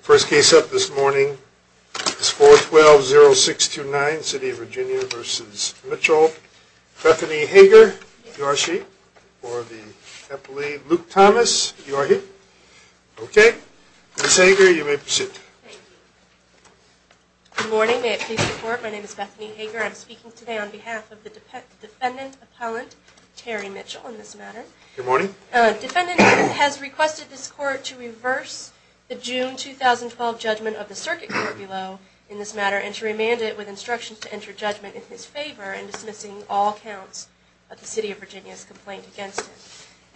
First case up this morning is 412-0629, City of Virginia v. Mitchell, Bethany Hager, if you are she or the employee, Luke Thomas, if you are he. Okay, Ms. Hager, you may proceed. Good morning, may it please the court, my name is Bethany Hager, I'm speaking today on behalf of the defendant appellant Terry Mitchell in this matter. Good morning. Defendant has requested this court to reverse the June 2012 judgment of the circuit court below in this matter and to remand it with instructions to enter judgment in his favor and dismissing all counts of the City of Virginia's complaint against him.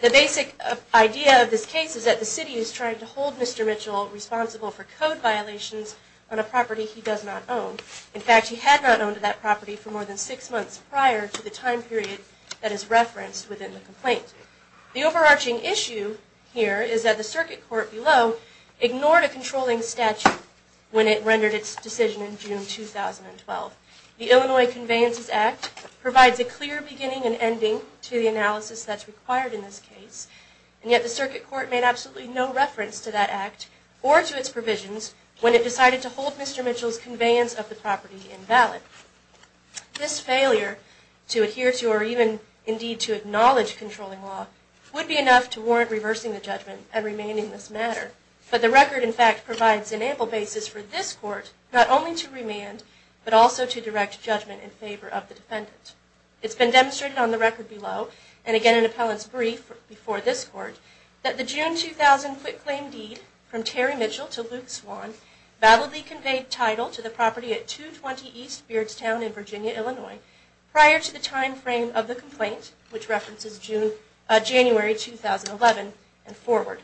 The basic idea of this case is that the City is trying to hold Mr. Mitchell responsible for code violations on a property he does not own. In fact, he had not owned that property for more than six months prior to the time period that is referenced within the complaint. The overarching issue here is that the circuit court below ignored a controlling statute when it rendered its decision in June 2012. The Illinois Conveyances Act provides a clear beginning and ending to the analysis that is required in this case, and yet the circuit court made absolutely no reference to that act or to its provisions when it decided to hold Mr. Mitchell's conveyance of the property invalid. This failure to adhere to or even indeed to acknowledge controlling law would be enough to warrant reversing the judgment and remanding this matter, but the record in fact provides an ample basis for this court not only to remand but also to direct judgment in favor of the defendant. It's been demonstrated on the record below, and again in Appellant's brief before this court, that the June 2000 quitclaim deed from Terry Mitchell to Luke Swan validly conveyed title to the property at 220 East Beardstown in Virginia, Illinois prior to the time frame of the complaint, which references January 2011 and forward.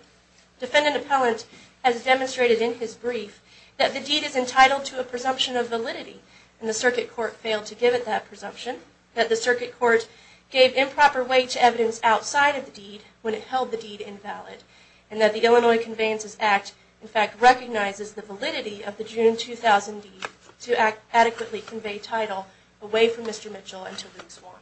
Defendant Appellant has demonstrated in his brief that the deed is entitled to a presumption of validity, and the circuit court failed to give it that presumption, that the circuit court gave improper weight to evidence outside of the deed when it held the deed invalid, and that the Illinois Conveyances Act in fact recognizes the validity of the June 2000 deed to adequately convey title away from Mr. Mitchell and to Luke Swan.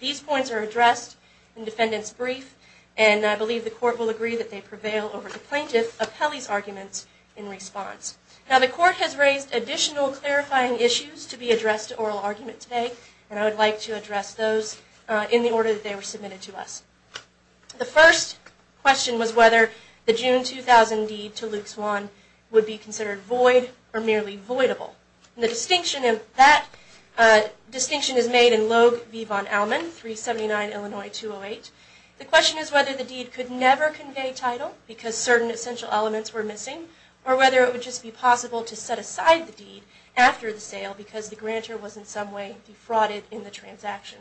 These points are addressed in defendant's brief, and I believe the court will agree that they prevail over the plaintiff Appellee's arguments in response. Now the court has raised additional clarifying issues to be addressed to oral argument today, and I would like to address those in the order that they were submitted to us. The first question was whether the June 2000 deed to Luke Swan would be considered void or merely voidable. The distinction is made in Logue v. Von Allman, 379 Illinois 208. The question is whether the deed could never convey title because certain essential elements were missing, or whether it would just be possible to set aside the deed after the sale because the grantor was in some way defrauded in the transaction.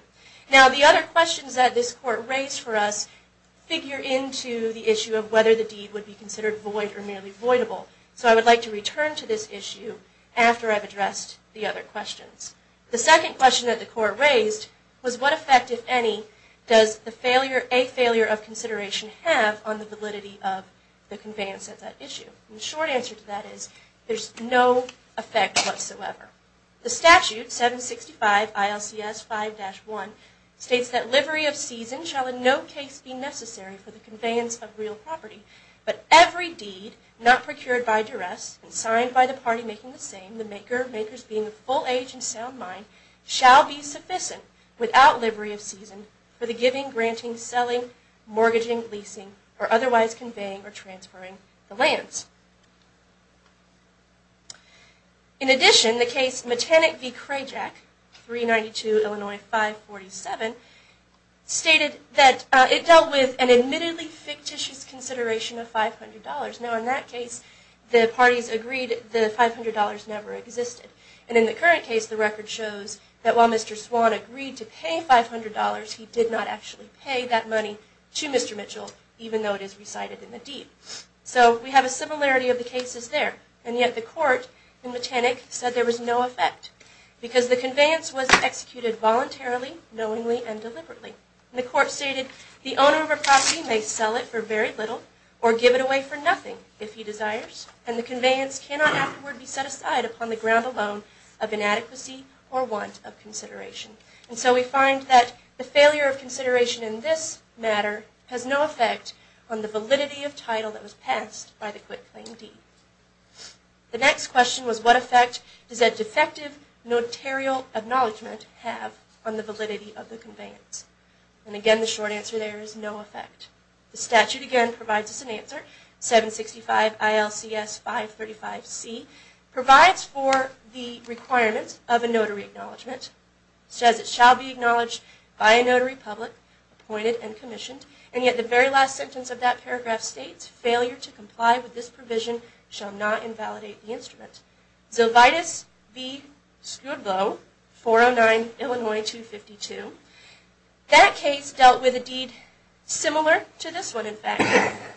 Now the other questions that this court raised for us figure into the issue of whether the deed would be considered void or merely voidable. So I would like to return to this issue after I've addressed the other questions. The second question that the court raised was what effect, if any, does a failure of consideration have on the validity of the conveyance of that issue? The short answer to that is there's no effect whatsoever. The statute, 765 ILCS 5-1, states that livery of season shall in no case be necessary for the conveyance of real property, but every deed not procured by duress and signed by the party making the same, the maker, makers being of full age and sound mind, shall be sufficient without livery of season for the giving, granting, selling, mortgaging, leasing, or otherwise conveying or transferring the lands. In addition, the case Metanic v. Crayjack, 392 Illinois 547, stated that it dealt with an admittedly fictitious consideration of $500. Now in that case, the parties agreed that the $500 never existed. And in the current case, the record shows that while Mr. Swan agreed to pay $500, he did not actually pay that money to Mr. Mitchell, even though it is recited in the deed. So we have a similarity of the cases there. And yet the court in Metanic said there was no effect because the conveyance was executed voluntarily, knowingly, and deliberately. The court stated, the owner of a property may sell it for very little or give it away for nothing if he desires, and the conveyance cannot afterward be set aside upon the ground alone of inadequacy or want of consideration. And so we find that the failure of consideration in this matter has no effect on the validity of title that was passed by the quit claim deed. The next question was, what effect does a defective notarial acknowledgment have on the validity of the conveyance? And again, the short answer there is no effect. The statute again provides us an answer, 765 ILCS 535C, provides for the requirement of a notary acknowledgment. It says it shall be acknowledged by a notary public, appointed, and commissioned. And yet the very last sentence of that paragraph states, failure to comply with this provision shall not invalidate the instrument. Zovitis B. Skrbo, 409 Illinois 252. That case dealt with a deed similar to this one, in fact.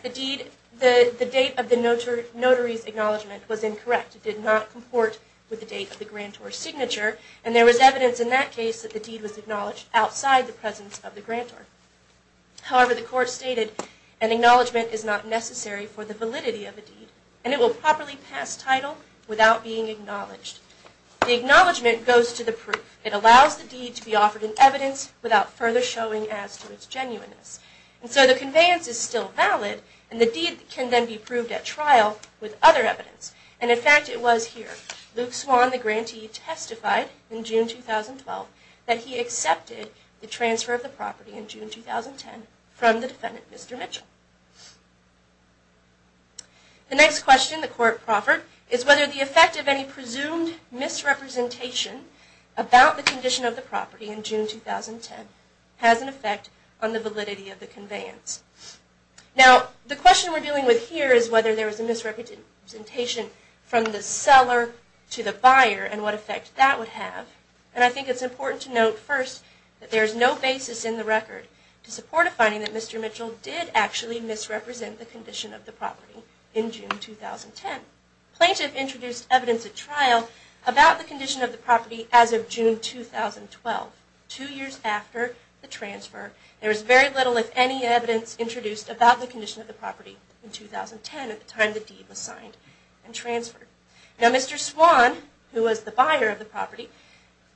The deed, the date of the notary's acknowledgment was incorrect. It did not comport with the date of the grantor's signature. And there was evidence in that case that the deed was acknowledged outside the presence of the grantor. However, the court stated, an acknowledgment is not necessary for the validity of a deed, and it will properly pass title without being acknowledged. The acknowledgment goes to the proof. It allows the deed to be offered in evidence without further showing as to its genuineness. And so the conveyance is still valid, and the deed can then be proved at trial with other evidence. And in fact, it was here. Luke Swan, the grantee, testified in June 2012 that he accepted the transfer of the property in June 2010 from the defendant, Mr. Mitchell. The next question the court proffered is whether the effect of any presumed misrepresentation about the condition of the property in June 2010 has an effect on the validity of the conveyance. Now, the question we're dealing with here is whether there was a misrepresentation from the seller to the buyer and what effect that would have. And I think it's important to note first that there is no basis in the record to support a finding that Mr. Mitchell did actually misrepresent the condition of the property in June 2010. Plaintiff introduced evidence at trial about the condition of the property as of June 2012, two years after the transfer. There is very little, if any, evidence introduced about the condition of the property in 2010 at the time the deed was signed and transferred. Now, Mr. Swan, who was the buyer of the property,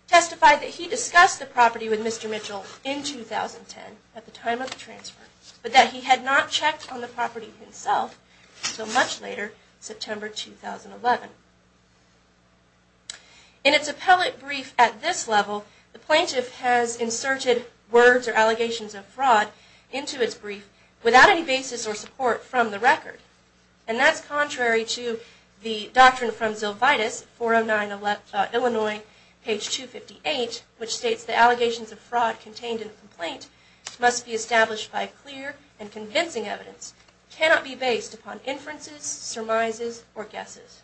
testified that he discussed the property with Mr. Mitchell in 2010 at the time of the transfer, but that he had not checked on the property himself until much later, September 2011. In its appellate brief at this level, the plaintiff has inserted words or allegations of fraud into its brief without any basis or support from the record. And that's contrary to the Doctrine from Zylvitis, 409 Illinois, page 258, which states the allegations of fraud contained in the complaint must be established by clear and convincing evidence, cannot be based upon inferences, surmises, or guesses.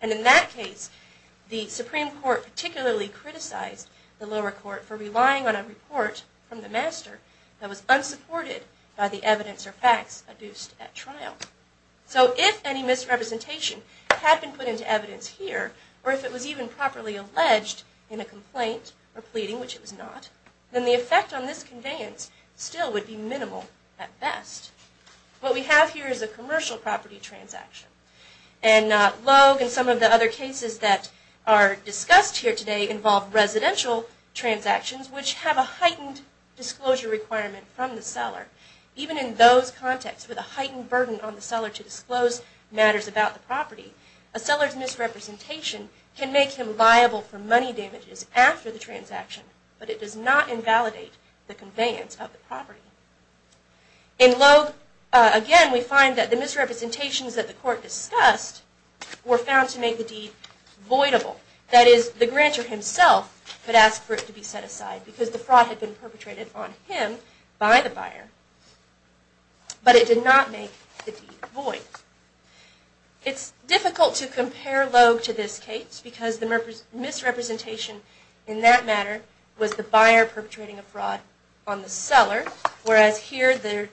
And in that case, the Supreme Court particularly criticized the lower court for relying on a report from the master that was unsupported by the evidence or facts introduced at trial. So if any misrepresentation had been put into evidence here, or if it was even properly alleged in a complaint or pleading, which it was not, then the effect on this conveyance still would be minimal at best. What we have here is a commercial property transaction. And Logue and some of the other cases that are discussed here today involve residential transactions which have a heightened disclosure requirement from the seller. Even in those contexts with a heightened burden on the seller to disclose matters about the property, a seller's misrepresentation can make him liable for money damages after the transaction, but it does not invalidate the conveyance of the property. In Logue, again, we find that the misrepresentations that the court discussed were found to make the deed voidable. That is, the grantor himself could ask for it to be set aside because the fraud had been perpetrated on him by the buyer, It's difficult to compare Logue to this case because the misrepresentation in that matter was the buyer perpetrating a fraud on the seller, whereas here the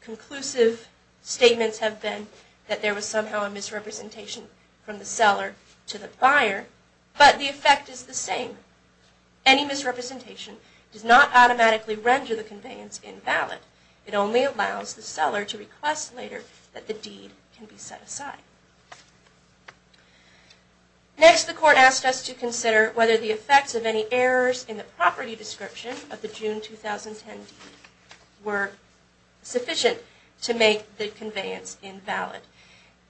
conclusive statements have been that there was somehow a misrepresentation from the seller to the buyer. But the effect is the same. Any misrepresentation does not automatically render the conveyance invalid. It only allows the seller to request later that the deed can be set aside. Next, the court asked us to consider whether the effects of any errors in the property description of the June 2010 deed were sufficient to make the conveyance invalid.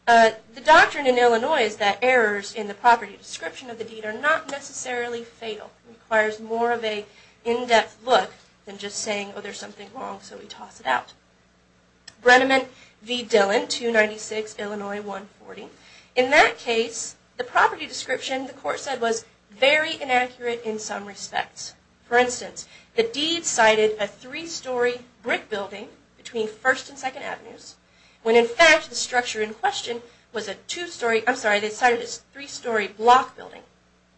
The doctrine in Illinois is that errors in the property description of the deed are not necessarily fatal. It requires more of an in-depth look than just saying, oh, there's something wrong, so we toss it out. Brenneman v. Dillon, 296 Illinois 140. In that case, the property description, the court said, was very inaccurate in some respects. For instance, the deed cited a three-story brick building between First and Second Avenues, when in fact the structure in question was a two-story, I'm sorry, they cited a three-story block building,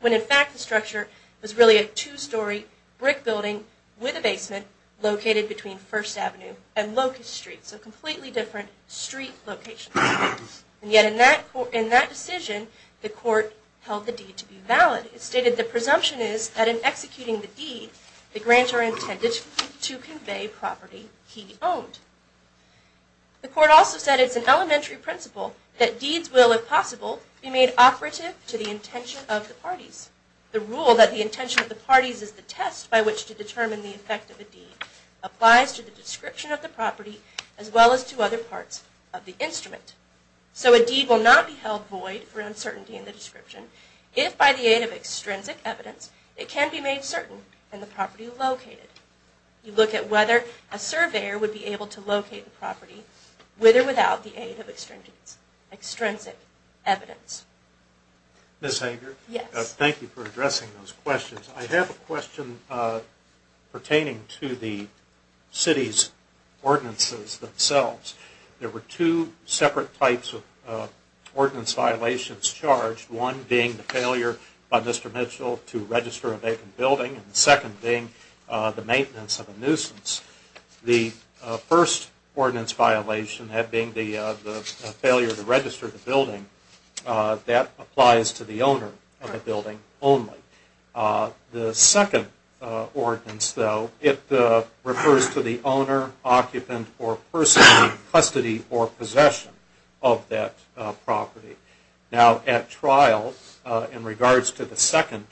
when in fact the structure was really a two-story brick building with a basement located between First Avenue and Locust Street. So completely different street locations. And yet in that decision, the court held the deed to be valid. It stated the presumption is that in executing the deed, the grants are intended to convey property he owned. The court also said it's an elementary principle that deeds will, if possible, be made operative to the intention of the parties. The rule that the intention of the parties is the test by which to determine the effect of a deed applies to the description of the property as well as to other parts of the instrument. So a deed will not be held void for uncertainty in the description if, by the aid of extrinsic evidence, it can be made certain in the property located. You look at whether a surveyor would be able to locate the property with or without the aid of extrinsic evidence. Ms. Hager? Yes. Thank you for addressing those questions. I have a question pertaining to the city's ordinances themselves. There were two separate types of ordinance violations charged, one being the failure by Mr. Mitchell to register a vacant building, and the second being the maintenance of a nuisance. The first ordinance violation, that being the failure to register the building, that applies to the owner of the building only. The second ordinance, though, it refers to the owner, occupant, or person in custody or possession of that property. Now, at trial, in regards to the second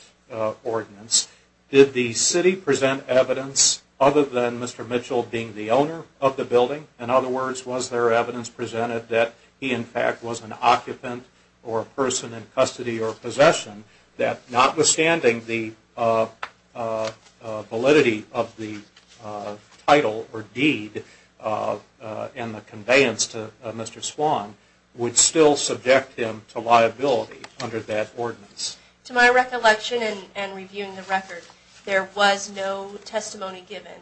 ordinance, did the city present evidence other than Mr. Mitchell being the owner of the building? In other words, was there evidence presented that he, in fact, was an occupant or a person in custody or possession that, notwithstanding the validity of the title or deed and the conveyance to Mr. Swan, would still subject him to liability under that ordinance? To my recollection, and reviewing the record, there was no testimony given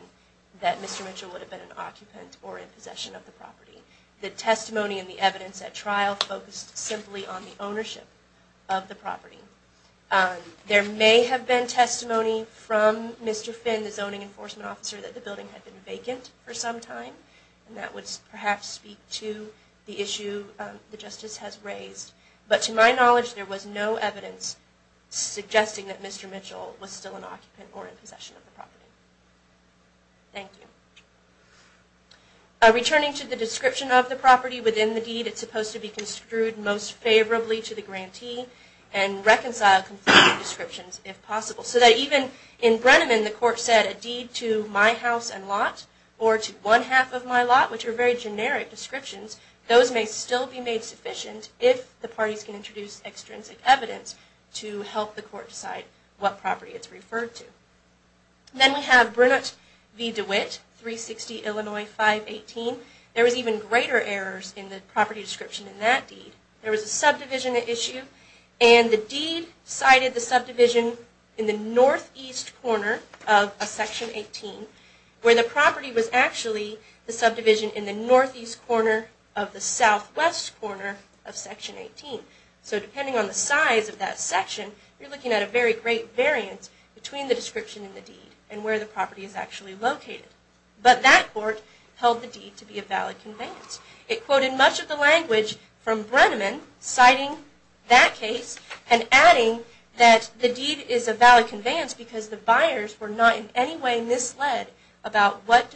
that Mr. Mitchell would have been an occupant or in possession of the property. The testimony and the evidence at trial focused simply on the ownership of the property. There may have been testimony from Mr. Finn, the zoning enforcement officer, that the building had been vacant for some time, and that would perhaps speak to the issue the Justice has raised. But to my knowledge, there was no evidence suggesting that Mr. Mitchell was still an occupant or in possession of the property. Thank you. Returning to the description of the property within the deed, it's supposed to be construed most favorably to the grantee and reconciled conflicting descriptions, if possible. So that even in Brenneman, the court said, a deed to my house and lot, or to one half of my lot, which are very generic descriptions, those may still be made sufficient if the parties can introduce extrinsic evidence to help the court decide what property it's referred to. Then we have Brennett v. DeWitt, 360 Illinois 518. There was even greater errors in the property description in that deed. There was a subdivision issue, and the deed cited the subdivision in the northeast corner of a Section 18, where the property was actually the subdivision in the northeast corner of the southwest corner of Section 18. So depending on the size of that section, you're looking at a very great variance between the description in the deed and where the property is actually located. But that court held the deed to be a valid conveyance. It quoted much of the language from Brenneman citing that case and adding that the deed is a valid conveyance because the buyers were not in any way misled about what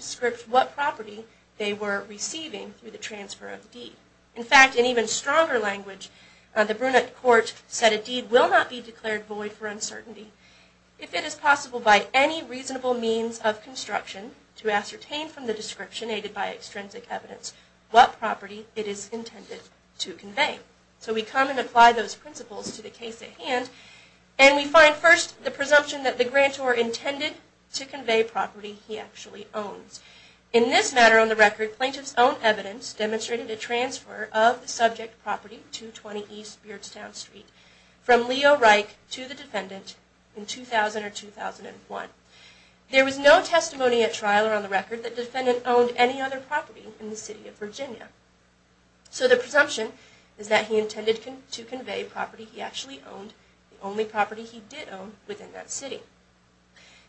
property they were receiving through the transfer of the deed. In fact, in even stronger language, the Brennett court said a deed will not be declared void for uncertainty if it is possible by any reasonable means of construction to ascertain from the description aided by extrinsic evidence what property it is intended to convey. So we come and apply those principles to the case at hand, and we find first the presumption that the grantor intended to convey property he actually owns. In this matter on the record, plaintiff's own evidence demonstrated a transfer of the subject property 220 East Beardstown Street from Leo Reich to the defendant in 2000 or 2001. There was no testimony at trial or on the record that the defendant owned any other property in the city of Virginia. So the presumption is that he intended to convey property he actually owned, the only property he did own within that city.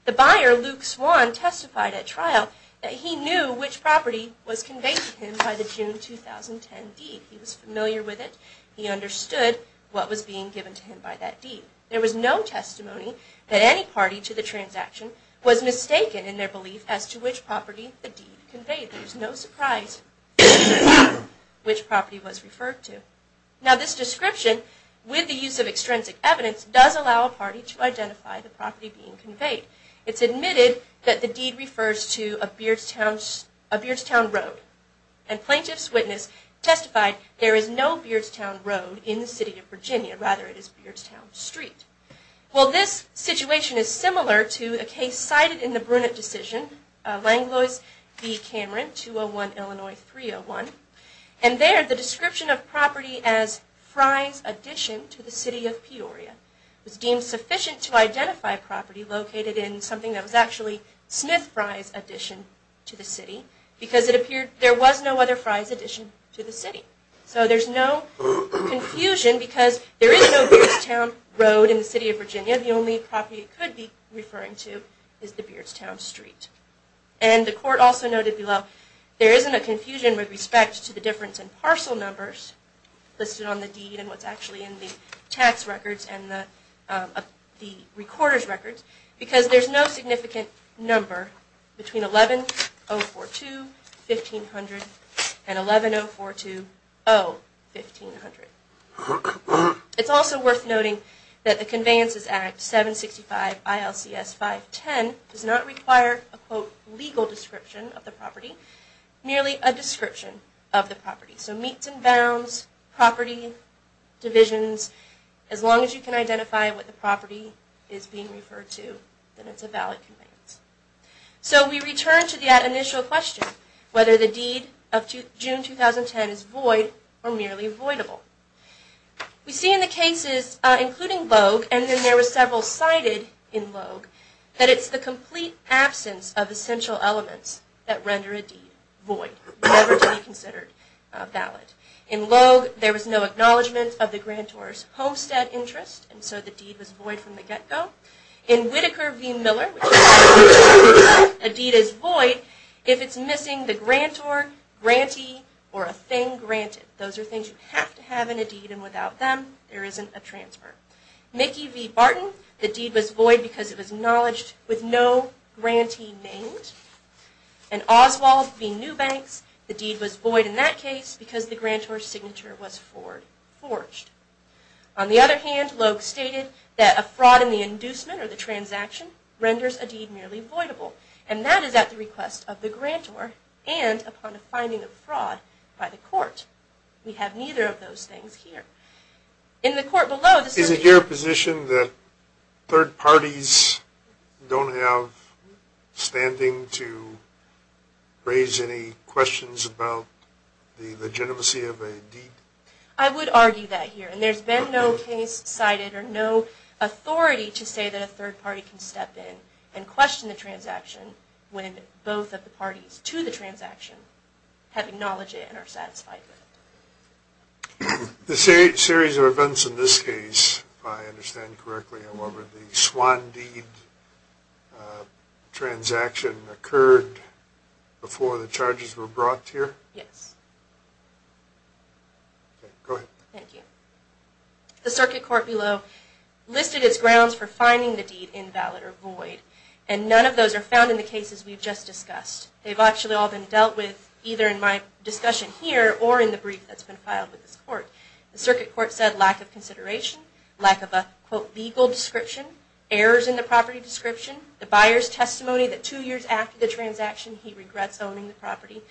The buyer, Luke Swan, testified at trial that he knew which property was conveyed to him by the June 2010 deed. He was familiar with it. He understood what was being given to him by that deed. There was no testimony that any party to the transaction was mistaken in their belief as to which property the deed conveyed. There was no surprise which property was referred to. Now this description, with the use of extrinsic evidence, does allow a party to identify the property being conveyed. It's admitted that the deed refers to a Beardstown Road. And plaintiff's witness testified there is no Beardstown Road in the city of Virginia, rather it is Beardstown Street. Well this situation is similar to a case cited in the Brunette decision, Langlois v. Cameron, 201 Illinois 301. And there the description of property as Fry's addition to the city of Peoria was deemed sufficient to identify property located in something that was actually Smith Fry's addition to the city because it appeared there was no other Fry's addition to the city. So there's no confusion because there is no Beardstown Road in the city of Virginia. The only property it could be referring to is the Beardstown Street. And the court also noted below there isn't a confusion with respect to the difference in parcel numbers listed on the deed and what's actually in the tax records and the recorder's records because there's no significant number between 11-042-1500 and 11-042-0-1500. It's also worth noting that the Conveyances Act 765 ILCS 510 does not require a quote legal description of the property, merely a description of the property. So meets and bounds, property, divisions, as long as you can identify what the property is being referred to, then it's a valid conveyance. So we return to that initial question, whether the deed of June 2010 is void or merely voidable. We see in the cases, including Logue, and then there were several cited in Logue, that it's the complete absence of essential elements that render a deed void, never to be considered valid. In Logue, there was no acknowledgment of the grantor's homestead interest and so the deed was void from the get-go. In Whitaker v. Miller, a deed is void if it's missing the grantor, grantee, or a thing granted. Those are things you have to have in a deed and without them, there isn't a transfer. Mickey v. Barton, the deed was void because it was acknowledged with no grantee named. In Oswald v. Newbanks, the deed was void in that case because the grantor's signature was forged. On the other hand, Logue stated that a fraud in the inducement or the transaction renders a deed merely voidable and that is at the request of the grantor and upon a finding of fraud by the court. We have neither of those things here. In the court below... Is it your position that third parties don't have standing to raise any questions about the legitimacy of a deed? I would argue that here and there's been no case cited or no authority to say that a third party can step in and question the transaction when both of the parties to the transaction have acknowledged it and are satisfied with it. The series of events in this case, if I understand correctly, however, the Swan deed transaction occurred before the charges were brought here? Yes. Okay, go ahead. Thank you. The circuit court below listed its grounds for finding the deed invalid or void and none of those are found in the cases we've just discussed. They've actually all been dealt with either in my discussion here or in the brief that's been filed with this court. The circuit court said lack of consideration, lack of a, quote, legal description, errors in the property description, the buyer's testimony that two years after the transaction he regrets owning the property,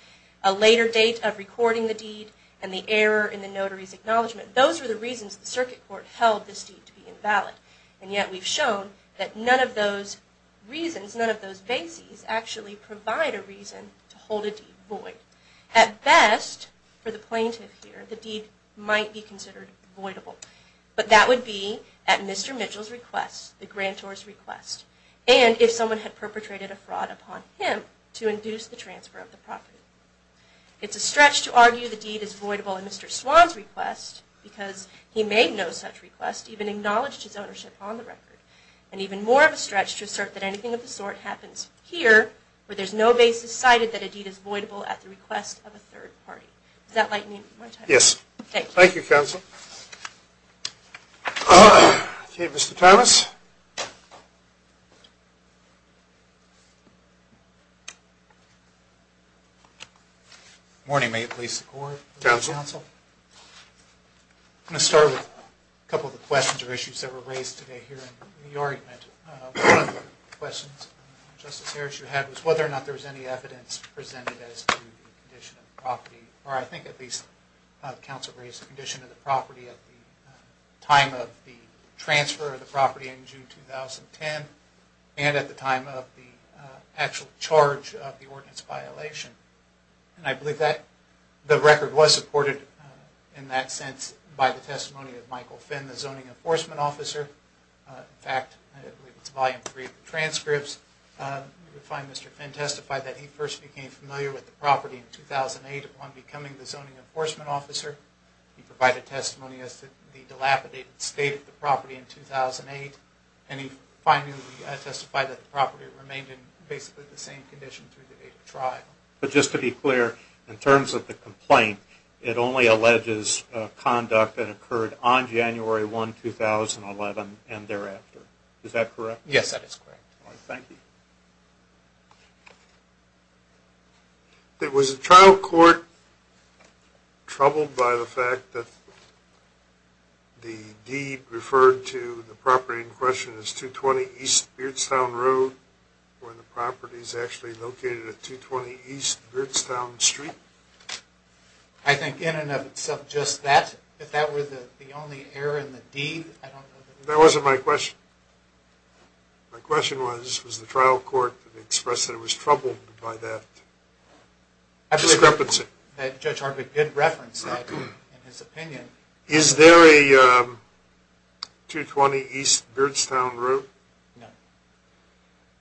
a later date of recording the deed, and the error in the notary's acknowledgement. Those are the reasons the circuit court held this deed to be invalid. And yet we've shown that none of those reasons, none of those bases actually provide a reason to hold a deed void. At best, for the plaintiff here, the deed might be considered voidable. But that would be at Mr. Mitchell's request, the grantor's request, and if someone had perpetrated a fraud upon him to induce the transfer of the property. It's a stretch to argue the deed is voidable at Mr. Swan's request because he made no such request, even acknowledged his ownership on the record. And even more of a stretch to assert that anything of the sort happens here where there's no basis cited that a deed is voidable at the request of a third party. Does that lighten you? Thank you. Thank you, counsel. Okay, Mr. Thomas. Good morning. May it please the court. Good morning, counsel. I'm going to start with a couple of the questions or issues that were raised today here in the argument. One of the questions, Justice Harris, you had was whether or not there was any evidence presented as to the condition of the property, or I think at least the counsel raised the condition of the property at the time of the transfer of the property in June 2010 and at the time of the actual charge of the ordinance violation. And I believe that the record was supported in that sense by the testimony of Michael Finn, the zoning enforcement officer. In fact, I believe it's volume three of the transcripts. We find Mr. Finn testified that he first became familiar with the property in 2008 upon becoming the zoning enforcement officer. He provided testimony as to the dilapidated state of the property in 2008. And he finally testified that the property remained in basically the same condition through the date of trial. But just to be clear, in terms of the complaint, it only alleges conduct that occurred on January 1, 2011 and thereafter. Is that correct? Yes, that is correct. Thank you. Was the trial court troubled by the fact that the deed referred to the property in question as 220 East Beardstown Road when the property is actually located at 220 East Beardstown Street? I think in and of itself just that. If that were the only error in the deed, I don't know. That wasn't my question. My question was, was the trial court expressed that it was troubled by that discrepancy? I believe that Judge Harvick did reference that in his opinion. Is there a 220 East Beardstown Road? No.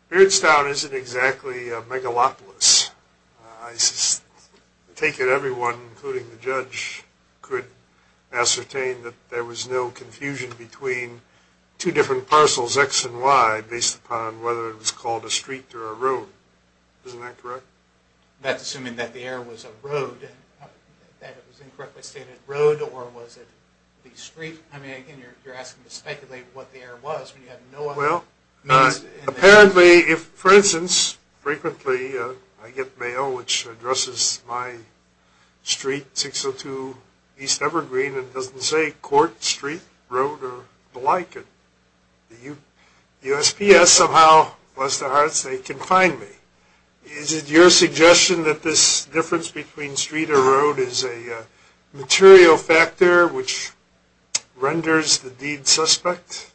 Beardstown isn't exactly a megalopolis. I take it everyone, including the judge, could ascertain that there was no confusion between two different parcels, X and Y, based upon whether it was called a street or a road. Isn't that correct? That's assuming that the error was a road, that it was incorrectly stated road, or was it the street? I mean, again, you're asking to speculate what the error was. Well, apparently, for instance, frequently I get mail which addresses my street, 602 East Evergreen, and it doesn't say court, street, road, or the like. The USPS somehow, bless their hearts, they confine me. Is it your suggestion that this difference between street or road is a material factor which renders the deed suspect?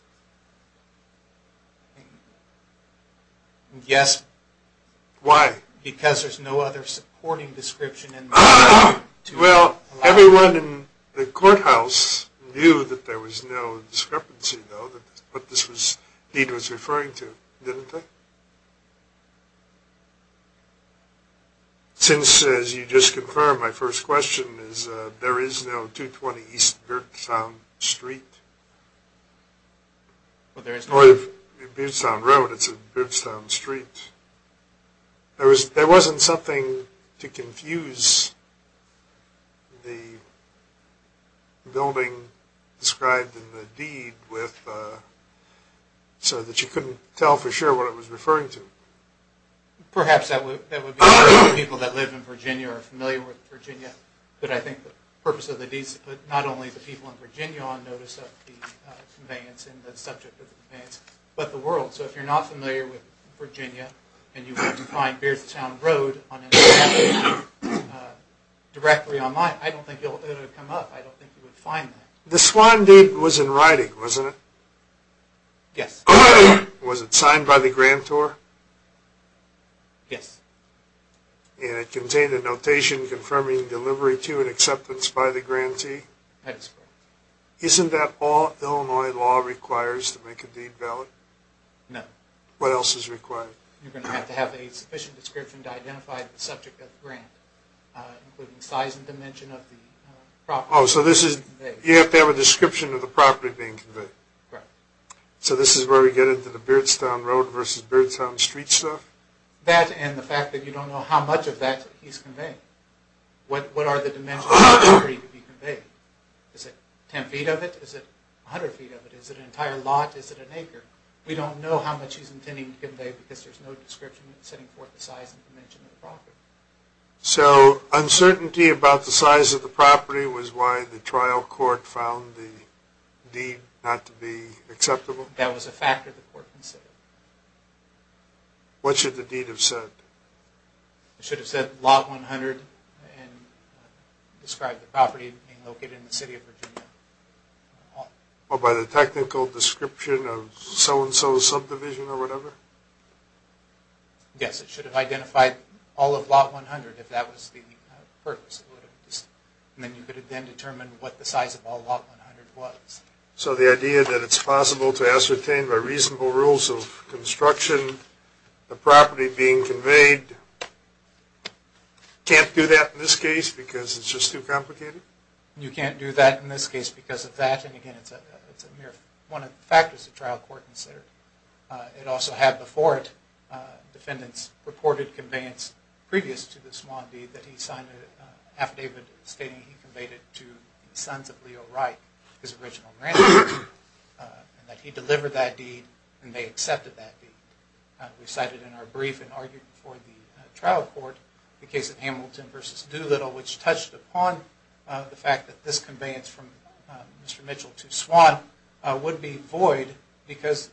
Yes. Why? Because there's no other supporting description in the deed. Well, everyone in the courthouse knew that there was no discrepancy, though, that what this deed was referring to, didn't they? Since, as you just confirmed, my first question is, there is no 220 East Beardstown Street? Well, there isn't. Or Beardstown Road, it's Beardstown Street. There wasn't something to confuse the building described in the deed with, so that you couldn't tell for sure what it was referring to. Perhaps that would be for people that live in Virginia or are familiar with Virginia, but I think the purpose of the deed is to put not only the people in Virginia on notice of the conveyance and the subject of the conveyance, but the world, so if you're not familiar with Virginia and you want to find Beardstown Road directly online, I don't think it would come up, I don't think you would find that. The swine deed was in writing, wasn't it? Yes. Was it signed by the grantor? Yes. And it contained a notation confirming delivery to and acceptance by the grantee? That is correct. Isn't that all Illinois law requires to make a deed valid? No. What else is required? You're going to have to have a sufficient description to identify the subject of the grant, including size and dimension of the property. Oh, so this is, you have to have a description of the property being conveyed. Correct. So this is where we get into the Beardstown Road versus Beardstown Street stuff? That and the fact that you don't know how much of that he's conveyed. What are the dimensions of the property to be conveyed? Is it 10 feet of it? Is it 100 feet of it? Is it an entire lot? Is it an acre? We don't know how much he's intending to convey because there's no description setting forth the size and dimension of the property. So uncertainty about the size of the property was why the trial court found the deed not to be acceptable? That was a factor the court considered. What should the deed have said? It should have said lot 100 and described the property being located in the city of Virginia. By the technical description of so-and-so's subdivision or whatever? Yes, it should have identified all of lot 100 if that was the purpose. Then you could have then determined what the size of all lot 100 was. So the idea that it's possible to ascertain by reasonable rules of construction the property being conveyed can't do that in this case because it's just too complicated? You can't do that in this case because of that. And again, it's one of the factors the trial court considered. It also had before it, defendants reported conveyance previous to the Swann deed that he signed an affidavit stating he conveyed it to the sons of Leo Wright, his original grandson, and that he delivered that deed and they accepted that deed. We cited in our brief and argued before the trial court the case of Hamilton v. Doolittle, which touched upon the fact that this conveyance from Mr. Mitchell to Swann would be void because,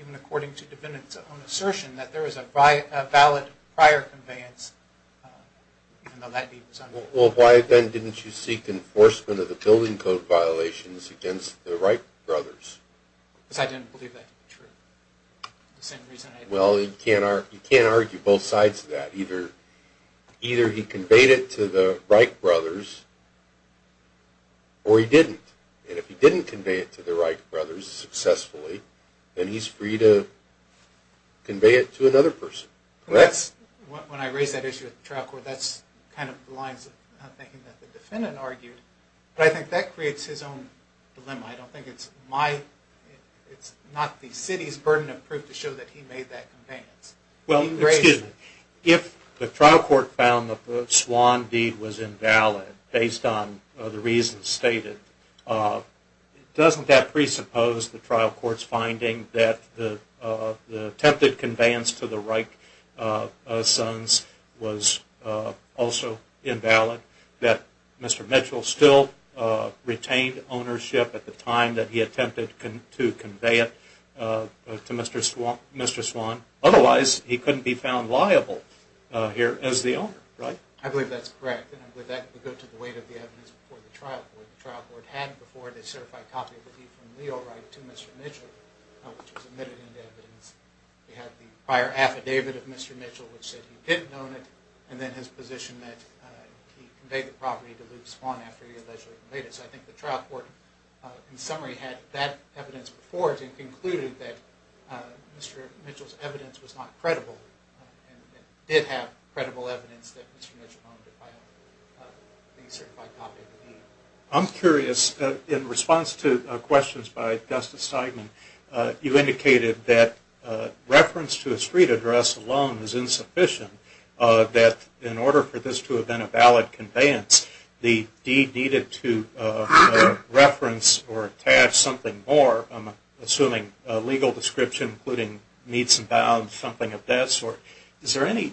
even according to defendants' own assertion, that there is a valid prior conveyance even though that deed was signed. Well, why then didn't you seek enforcement of the building code violations against the Wright brothers? Because I didn't believe that to be true. Well, you can't argue both sides of that. Either he conveyed it to the Wright brothers or he didn't. And if he didn't convey it to the Wright brothers successfully, then he's free to convey it to another person. When I raise that issue with the trial court, that's kind of the lines of thinking that the defendant argued. But I think that creates his own dilemma. I don't think it's my, it's not the city's burden of proof to show that he made that conveyance. Well, excuse me. If the trial court found that the Swann deed was invalid based on the reasons stated, doesn't that presuppose the trial court's finding that the attempted conveyance to the Wright sons was also invalid? That Mr. Mitchell still retained ownership at the time that he attempted to convey it to Mr. Swann? Otherwise, he couldn't be found liable here as the owner, right? I believe that's correct. And I believe that would go to the weight of the evidence before the trial court. The trial court had before it a certified copy of the deed from Leo Wright to Mr. Mitchell, which was admitted into evidence. We have the prior affidavit of Mr. Mitchell, which said he didn't own it, and then his position that he conveyed the property to Luke Swann after he allegedly conveyed it. So I think the trial court, in summary, had that evidence before it and concluded that Mr. Mitchell's evidence was not credible and did have credible evidence that Mr. Mitchell owned the certified copy of the deed. I'm curious, in response to questions by Justice Steigman, you indicated that reference to a street address alone is insufficient, that in order for this to have been a valid conveyance, the deed needed to reference or attach something more, I'm assuming a legal description including meets and bounds, something of that sort. Is there any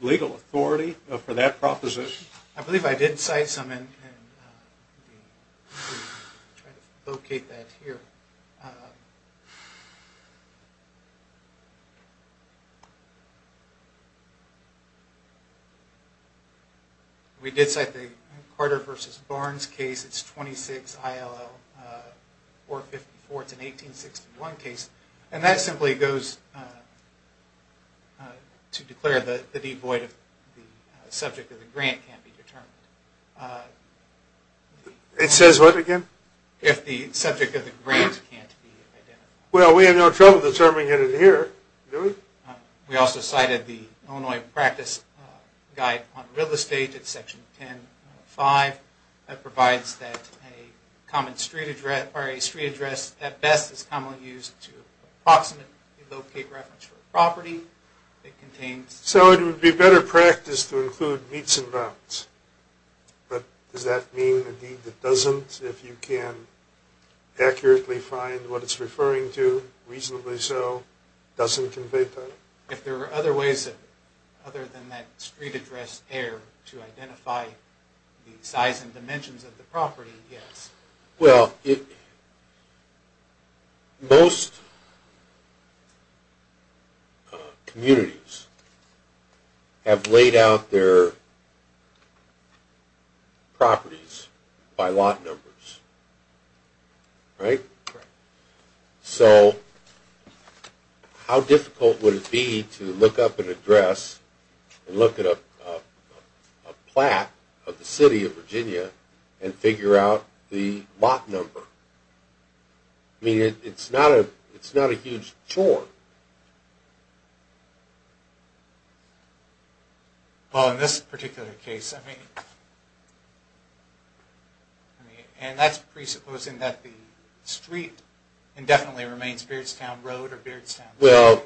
legal authority for that proposition? I believe I did cite some, and I'll try to locate that here. We did cite the Carter v. Barnes case, it's 26 ILL 454, it's an 1861 case, and that simply goes to declare the deed void if the subject of the grant can't be determined. It says what again? If the subject of the grant can't be identified. Well, we have no trouble determining it here, do we? We also cited the Illinois Practice Guide on Real Estate, it's section 10.5, that provides that a street address at best is commonly used to approximately locate reference to a property. So it would be better practice to include meets and bounds, but does that mean a deed that doesn't, if you can accurately find what it's referring to, reasonably so, doesn't convey penalty? If there are other ways other than that street address there to identify the size and dimensions of the property, yes. Well, most communities have laid out their properties by lot numbers, right? Correct. So how difficult would it be to look up an address and look at a plaque of the city of Virginia and figure out the lot number? I mean, it's not a huge chore. Well, in this particular case, I mean, and that's presupposing that the street indefinitely remains Beardstown Road or Beardstown. Well,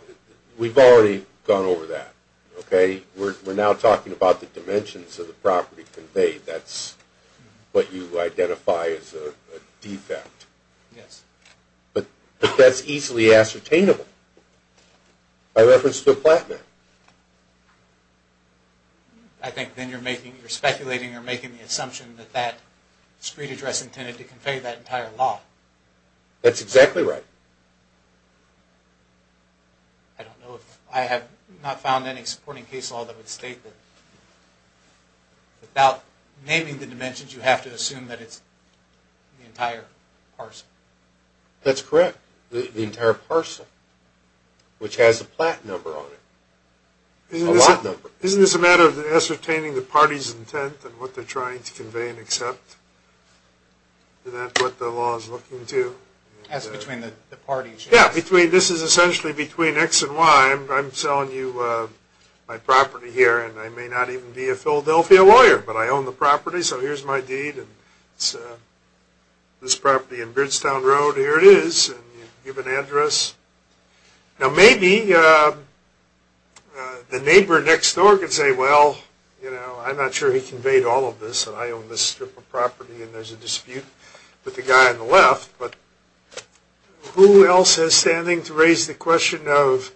we've already gone over that, okay? We're now talking about the dimensions of the property conveyed. That's what you identify as a defect. Yes. But that's easily ascertainable by reference to a plaque there. I think then you're speculating or making the assumption that that street address intended to convey that entire lot. That's exactly right. I don't know if I have not found any supporting case law that would state that without naming the dimensions, you have to assume that it's the entire parcel. That's correct. The entire parcel, which has a plaque number on it, a lot number. Isn't this a matter of ascertaining the party's intent and what they're trying to convey and accept? Is that what the law is looking to? That's between the parties. Yes. This is essentially between X and Y. I'm selling you my property here, and I may not even be a Philadelphia lawyer, but I own the property, so here's my deed. It's this property in Beardstown Road. Here it is. You give an address. Now, maybe the neighbor next door could say, well, I'm not sure he conveyed all of this, and I own this strip of property, and there's a dispute with the guy on the left, but who else has standing to raise the question of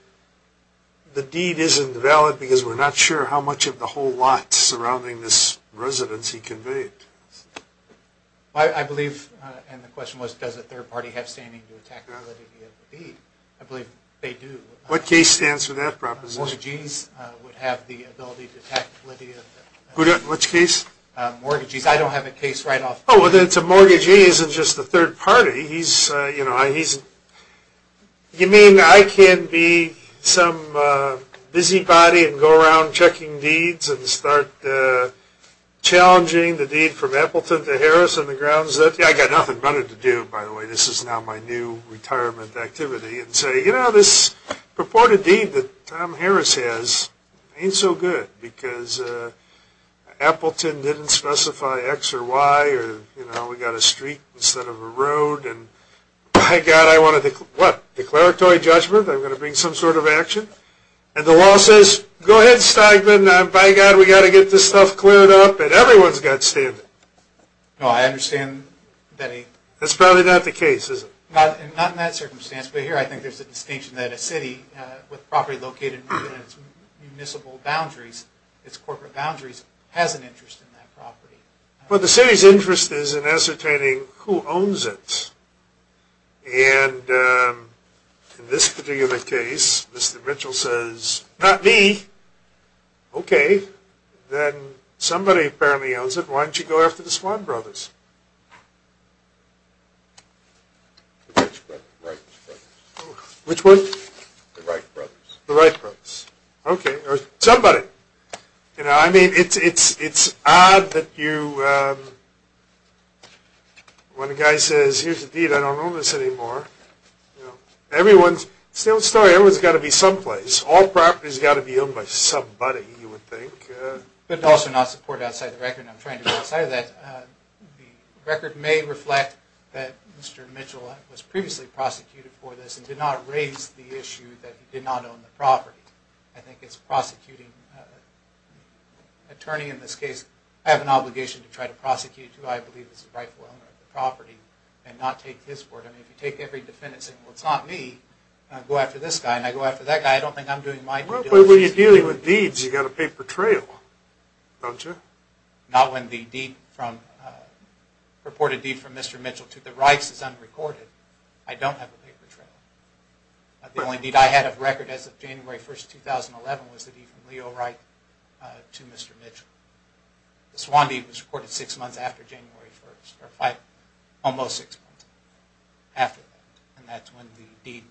the deed isn't valid because we're not sure how much of the whole lot surrounding this residence he conveyed? I believe, and the question was, does a third party have standing to attack the validity of the deed? I believe they do. What case stands for that proposition? Mortgagees would have the ability to attack the validity of the deed. Which case? Mortgagees. I don't have a case right off the bat. Oh, well, then it's a mortgagee isn't just a third party. You mean I can be some busybody and go around checking deeds and start challenging the deed from Appleton to Harris on the grounds that, yeah, I've got nothing better to do, by the way. This is now my new retirement activity, and say, you know, this purported deed that Tom Harris has ain't so good because Appleton didn't specify X or Y, or, you know, we've got a street instead of a road, and, by God, I want a declaratory judgment. I'm going to bring some sort of action. And the law says, go ahead, Steigman. By God, we've got to get this stuff cleared up, and everyone's got standing. No, I understand that ain't. That's probably not the case, is it? Not in that circumstance. But here I think there's a distinction that a city with property located within its municipal boundaries, its corporate boundaries, has an interest in that property. Well, the city's interest is in ascertaining who owns it. And in this particular case, Mr. Mitchell says, not me. Okay. Then somebody apparently owns it. Why don't you go after the Swann brothers? The Wright brothers. The Wright brothers. Okay. Or somebody. You know, I mean, it's odd that you, when a guy says, here's the deed, I don't own this anymore. You know, it's the old story. Everyone's got to be someplace. All properties have got to be owned by somebody, you would think. But also not support outside the record. I'm trying to go outside of that. The record may reflect that Mr. Mitchell was previously prosecuted for this and did not raise the issue that he did not own the property. I think it's prosecuting. Attorney in this case, I have an obligation to try to prosecute who I believe is the rightful owner of the property and not take his word. I mean, if you take every defendant and say, well, it's not me, go after this guy, and I go after that guy, I don't think I'm doing my due diligence. But when you're dealing with deeds, you've got a paper trail, don't you? Not when the deed from, reported deed from Mr. Mitchell to the Wrights is unrecorded. I don't have a paper trail. The only deed I had of record as of January 1st, 2011, was the deed from Leo Wright to Mr. Mitchell. The Swann deed was recorded six months after January 1st, or almost six months after that. And that's when the deed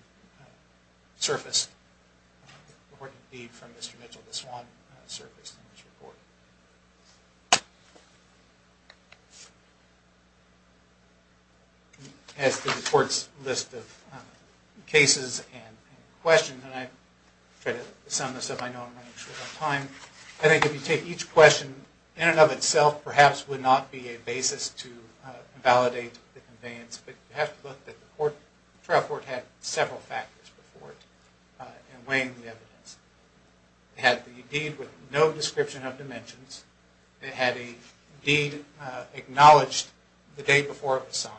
surfaced. The reported deed from Mr. Mitchell to Swann surfaced in this report. As to the court's list of cases and questions, and I try to sum this up. I know I'm running short on time. I think if you take each question in and of itself, perhaps would not be a basis to validate the conveyance. But you have to look that the trial court had several factors before it in weighing the evidence. It had the deed with no description of dimensions. It had a deed acknowledged the day before it was signed.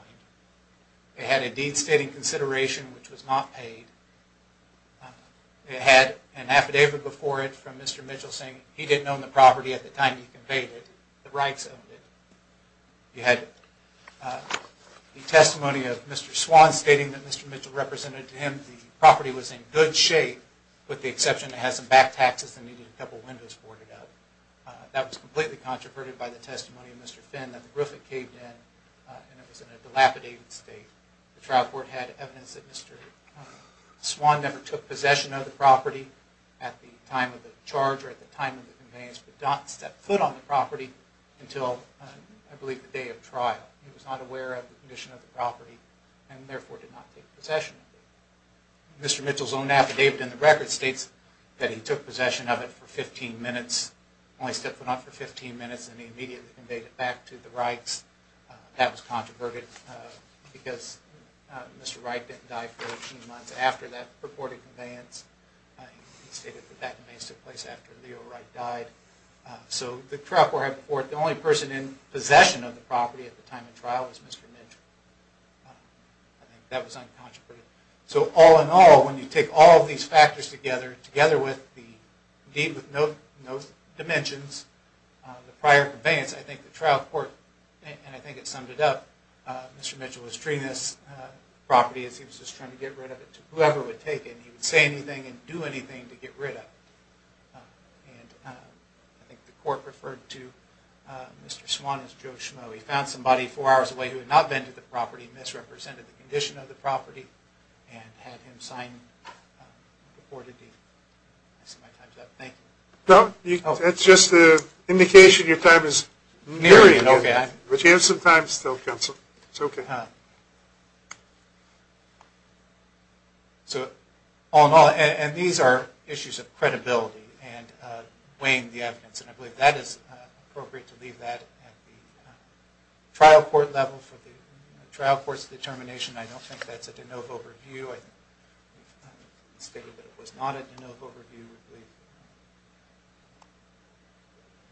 It had a deed stating consideration which was not paid. It had an affidavit before it from Mr. Mitchell saying he didn't own the property at the time he conveyed it. The Wrights owned it. It had the testimony of Mr. Swann stating that Mr. Mitchell represented to him the property was in good shape. With the exception it has some back taxes and needed a couple windows boarded up. That was completely controverted by the testimony of Mr. Finn that the roof had caved in and it was in a dilapidated state. The trial court had evidence that Mr. Swann never took possession of the property at the time of the charge or at the time of the conveyance. He did not step foot on the property until I believe the day of trial. He was not aware of the condition of the property and therefore did not take possession of it. Mr. Mitchell's own affidavit in the record states that he took possession of it for 15 minutes. Only stepped foot on it for 15 minutes and he immediately conveyed it back to the Wrights. That was controverted because Mr. Wright didn't die for 18 months after that purported conveyance. He stated that that conveyance took place after Leo Wright died. So the trial court had the purport that the only person in possession of the property at the time of trial was Mr. Mitchell. I think that was uncontroverted. So all in all when you take all of these factors together, together with the deed with no dimensions, the prior conveyance, I think the trial court, and I think it summed it up, Mr. Mitchell was treating this property as he was just trying to get rid of it to whoever would take it. He would say anything and do anything to get rid of it. I think the court referred to Mr. Swan as Joe Schmoe. He found somebody four hours away who had not vented the property, misrepresented the condition of the property, and had him sign the court a deed. I see my time's up. Thank you. That's just an indication your time is nearing. But you have some time still, counsel. It's okay. So all in all, and these are issues of credibility and weighing the evidence, and I believe that is appropriate to leave that at the trial court level for the trial court's determination. I don't think that's a de novo review. It was not a de novo review.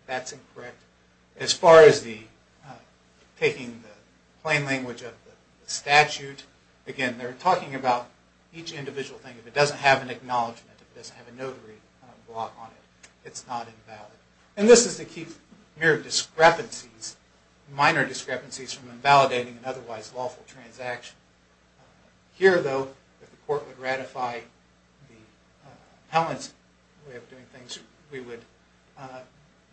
That's incorrect. As far as taking the plain language of the statute, again, they're talking about each individual thing. If it doesn't have an acknowledgment, if it doesn't have a notary block on it, it's not invalid. And this is to keep mere discrepancies, minor discrepancies from invalidating an otherwise lawful transaction. Here, though, if the court would ratify the appellant's way of doing things, we would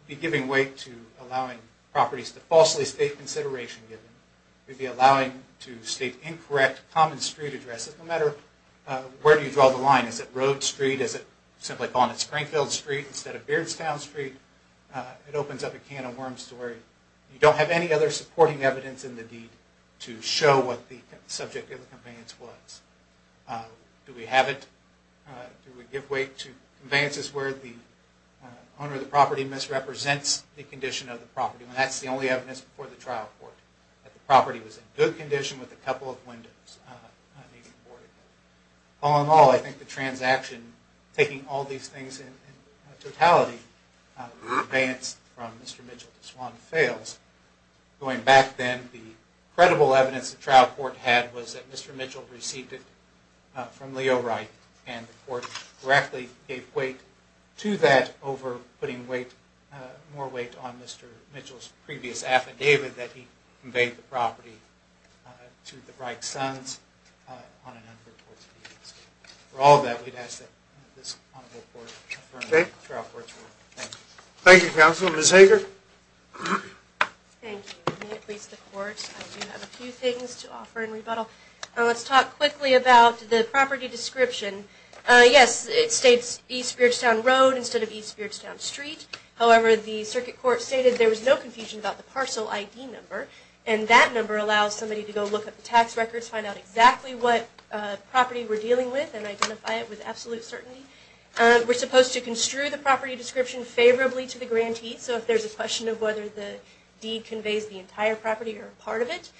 be giving weight to allowing properties to falsely state consideration given. We'd be allowing to state incorrect common street addresses, no matter where you draw the line. Is it Road Street? Is it simply calling it Springfield Street instead of Beardstown Street? It opens up a can of worms to worry. You don't have any other supporting evidence in the deed to show what the subject of the conveyance was. Do we have it? Do we give weight to conveyances where the owner of the property misrepresents the condition of the property, when that's the only evidence before the trial court that the property was in good condition with a couple of windows? All in all, I think the transaction, taking all these things in totality, the conveyance from Mr. Mitchell to Swan fails. Going back then, the credible evidence the trial court had was that Mr. Mitchell received it from Leo Wright, and the court directly gave weight to that over putting more weight on Mr. Mitchell's previous affidavit that he conveyed the property to the Wright sons on an under-reported basis. For all that, we'd ask that this honorable court confirm the trial court's ruling. Thank you. Thank you, counsel. Ms. Hager? Thank you. May it please the court, I do have a few things to offer in rebuttal. Let's talk quickly about the property description. Yes, it states East Beardstown Road instead of East Beardstown Street. However, the circuit court stated there was no confusion about the parcel ID number, and that number allows somebody to go look at the tax records, find out exactly what property we're dealing with, and identify it with absolute certainty. We're supposed to construe the property description favorably to the grantee, so if there's a question of whether the deed conveys the entire property or part of it,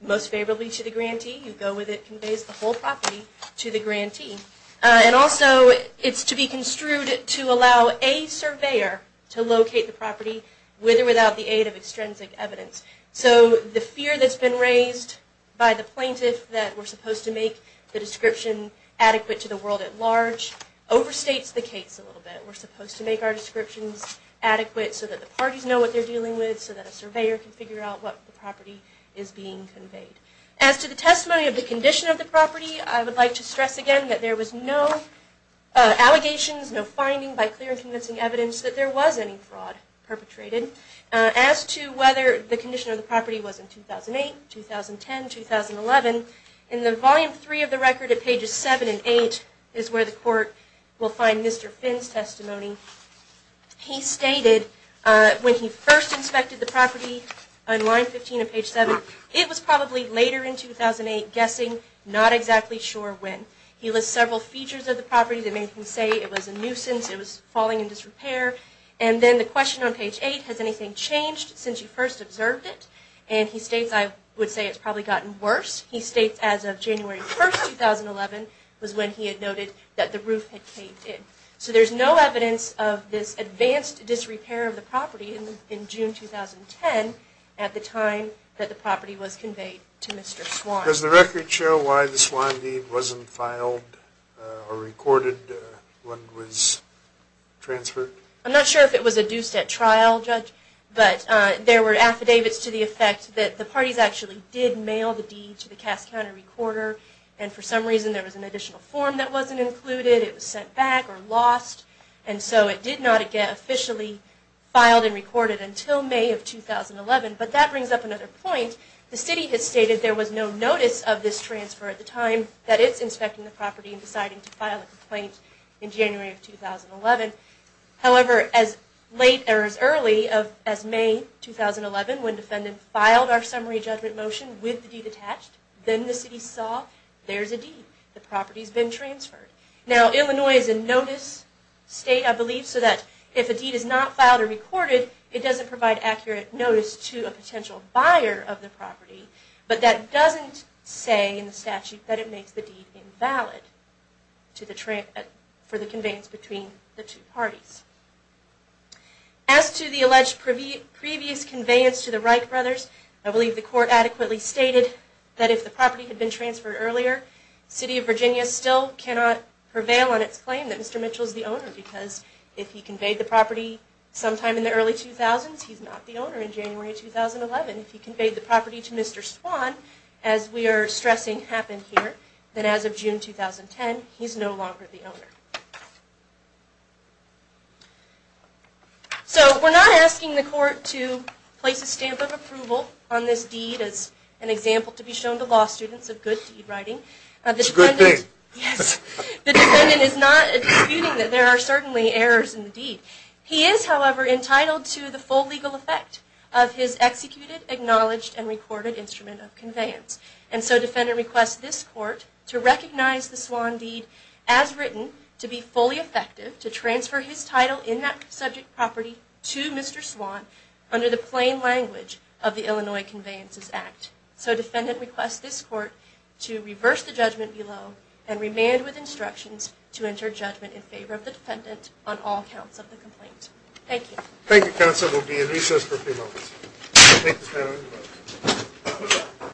most favorably to the grantee. You go with it, it conveys the whole property to the grantee. And also, it's to be construed to allow a surveyor to locate the property, with or without the aid of extrinsic evidence. So the fear that's been raised by the plaintiff that we're supposed to make the description adequate to the world at large, overstates the case a little bit. We're supposed to make our descriptions adequate so that the parties know what they're dealing with, so that a surveyor can figure out what the property is being conveyed. As to the testimony of the condition of the property, I would like to stress again that there was no allegations, no finding by clear and convincing evidence that there was any fraud perpetrated. As to whether the condition of the property was in 2008, 2010, 2011, in the volume 3 of the record at pages 7 and 8 is where the court will find Mr. Finn's testimony. He stated when he first inspected the property on line 15 of page 7, it was probably later in 2008, guessing, not exactly sure when. He lists several features of the property that make him say it was a nuisance, it was falling in disrepair. And then the question on page 8, has anything changed since you first observed it? And he states, I would say it's probably gotten worse. He states as of January 1, 2011, was when he had noted that the roof had caved in. So there's no evidence of this advanced disrepair of the property in June 2010, at the time that the property was conveyed to Mr. Swan. Does the record show why the Swan deed wasn't filed or recorded when it was transferred? I'm not sure if it was adduced at trial, Judge, but there were affidavits to the effect that the parties actually did mail the deed to the Cass County recorder, and for some reason there was an additional form that wasn't included, it was sent back or lost, and so it did not get officially filed and recorded until May of 2011. But that brings up another point. The city has stated there was no notice of this transfer at the time that it's inspecting the property and deciding to file a complaint in January of 2011. However, as late or as early as May 2011, when the defendant filed our summary judgment motion with the deed attached, then the city saw there's a deed, the property's been transferred. Now, Illinois is a notice state, I believe, so that if a deed is not filed or recorded, it doesn't provide accurate notice to a potential buyer of the property, but that doesn't say in the statute that it makes the deed invalid for the conveyance between the two parties. As to the alleged previous conveyance to the Reich brothers, I believe the court adequately stated that if the property had been transferred earlier, the city of Virginia still cannot prevail on its claim that Mr. Mitchell is the owner, because if he conveyed the property sometime in the early 2000s, he's not the owner in January 2011. If he conveyed the property to Mr. Swan, as we are stressing happened here, then as of June 2010, he's no longer the owner. So we're not asking the court to place a stamp of approval on this deed as an example to be shown to law students of good deed writing. It's a good thing. Yes. The defendant is not disputing that there are certainly errors in the deed. He is, however, entitled to the full legal effect of his executed, acknowledged, and recorded instrument of conveyance. And so defendant requests this court to recognize the Swan deed as written, to be fully effective, to transfer his title in that subject property to Mr. Swan under the plain language of the Illinois Conveyances Act. So defendant requests this court to reverse the judgment below and remand with instructions to enter judgment in favor of the defendant on all counts of the complaint. Thank you. Thank you, counsel. We'll be in recess for a few moments. Thank you, panel.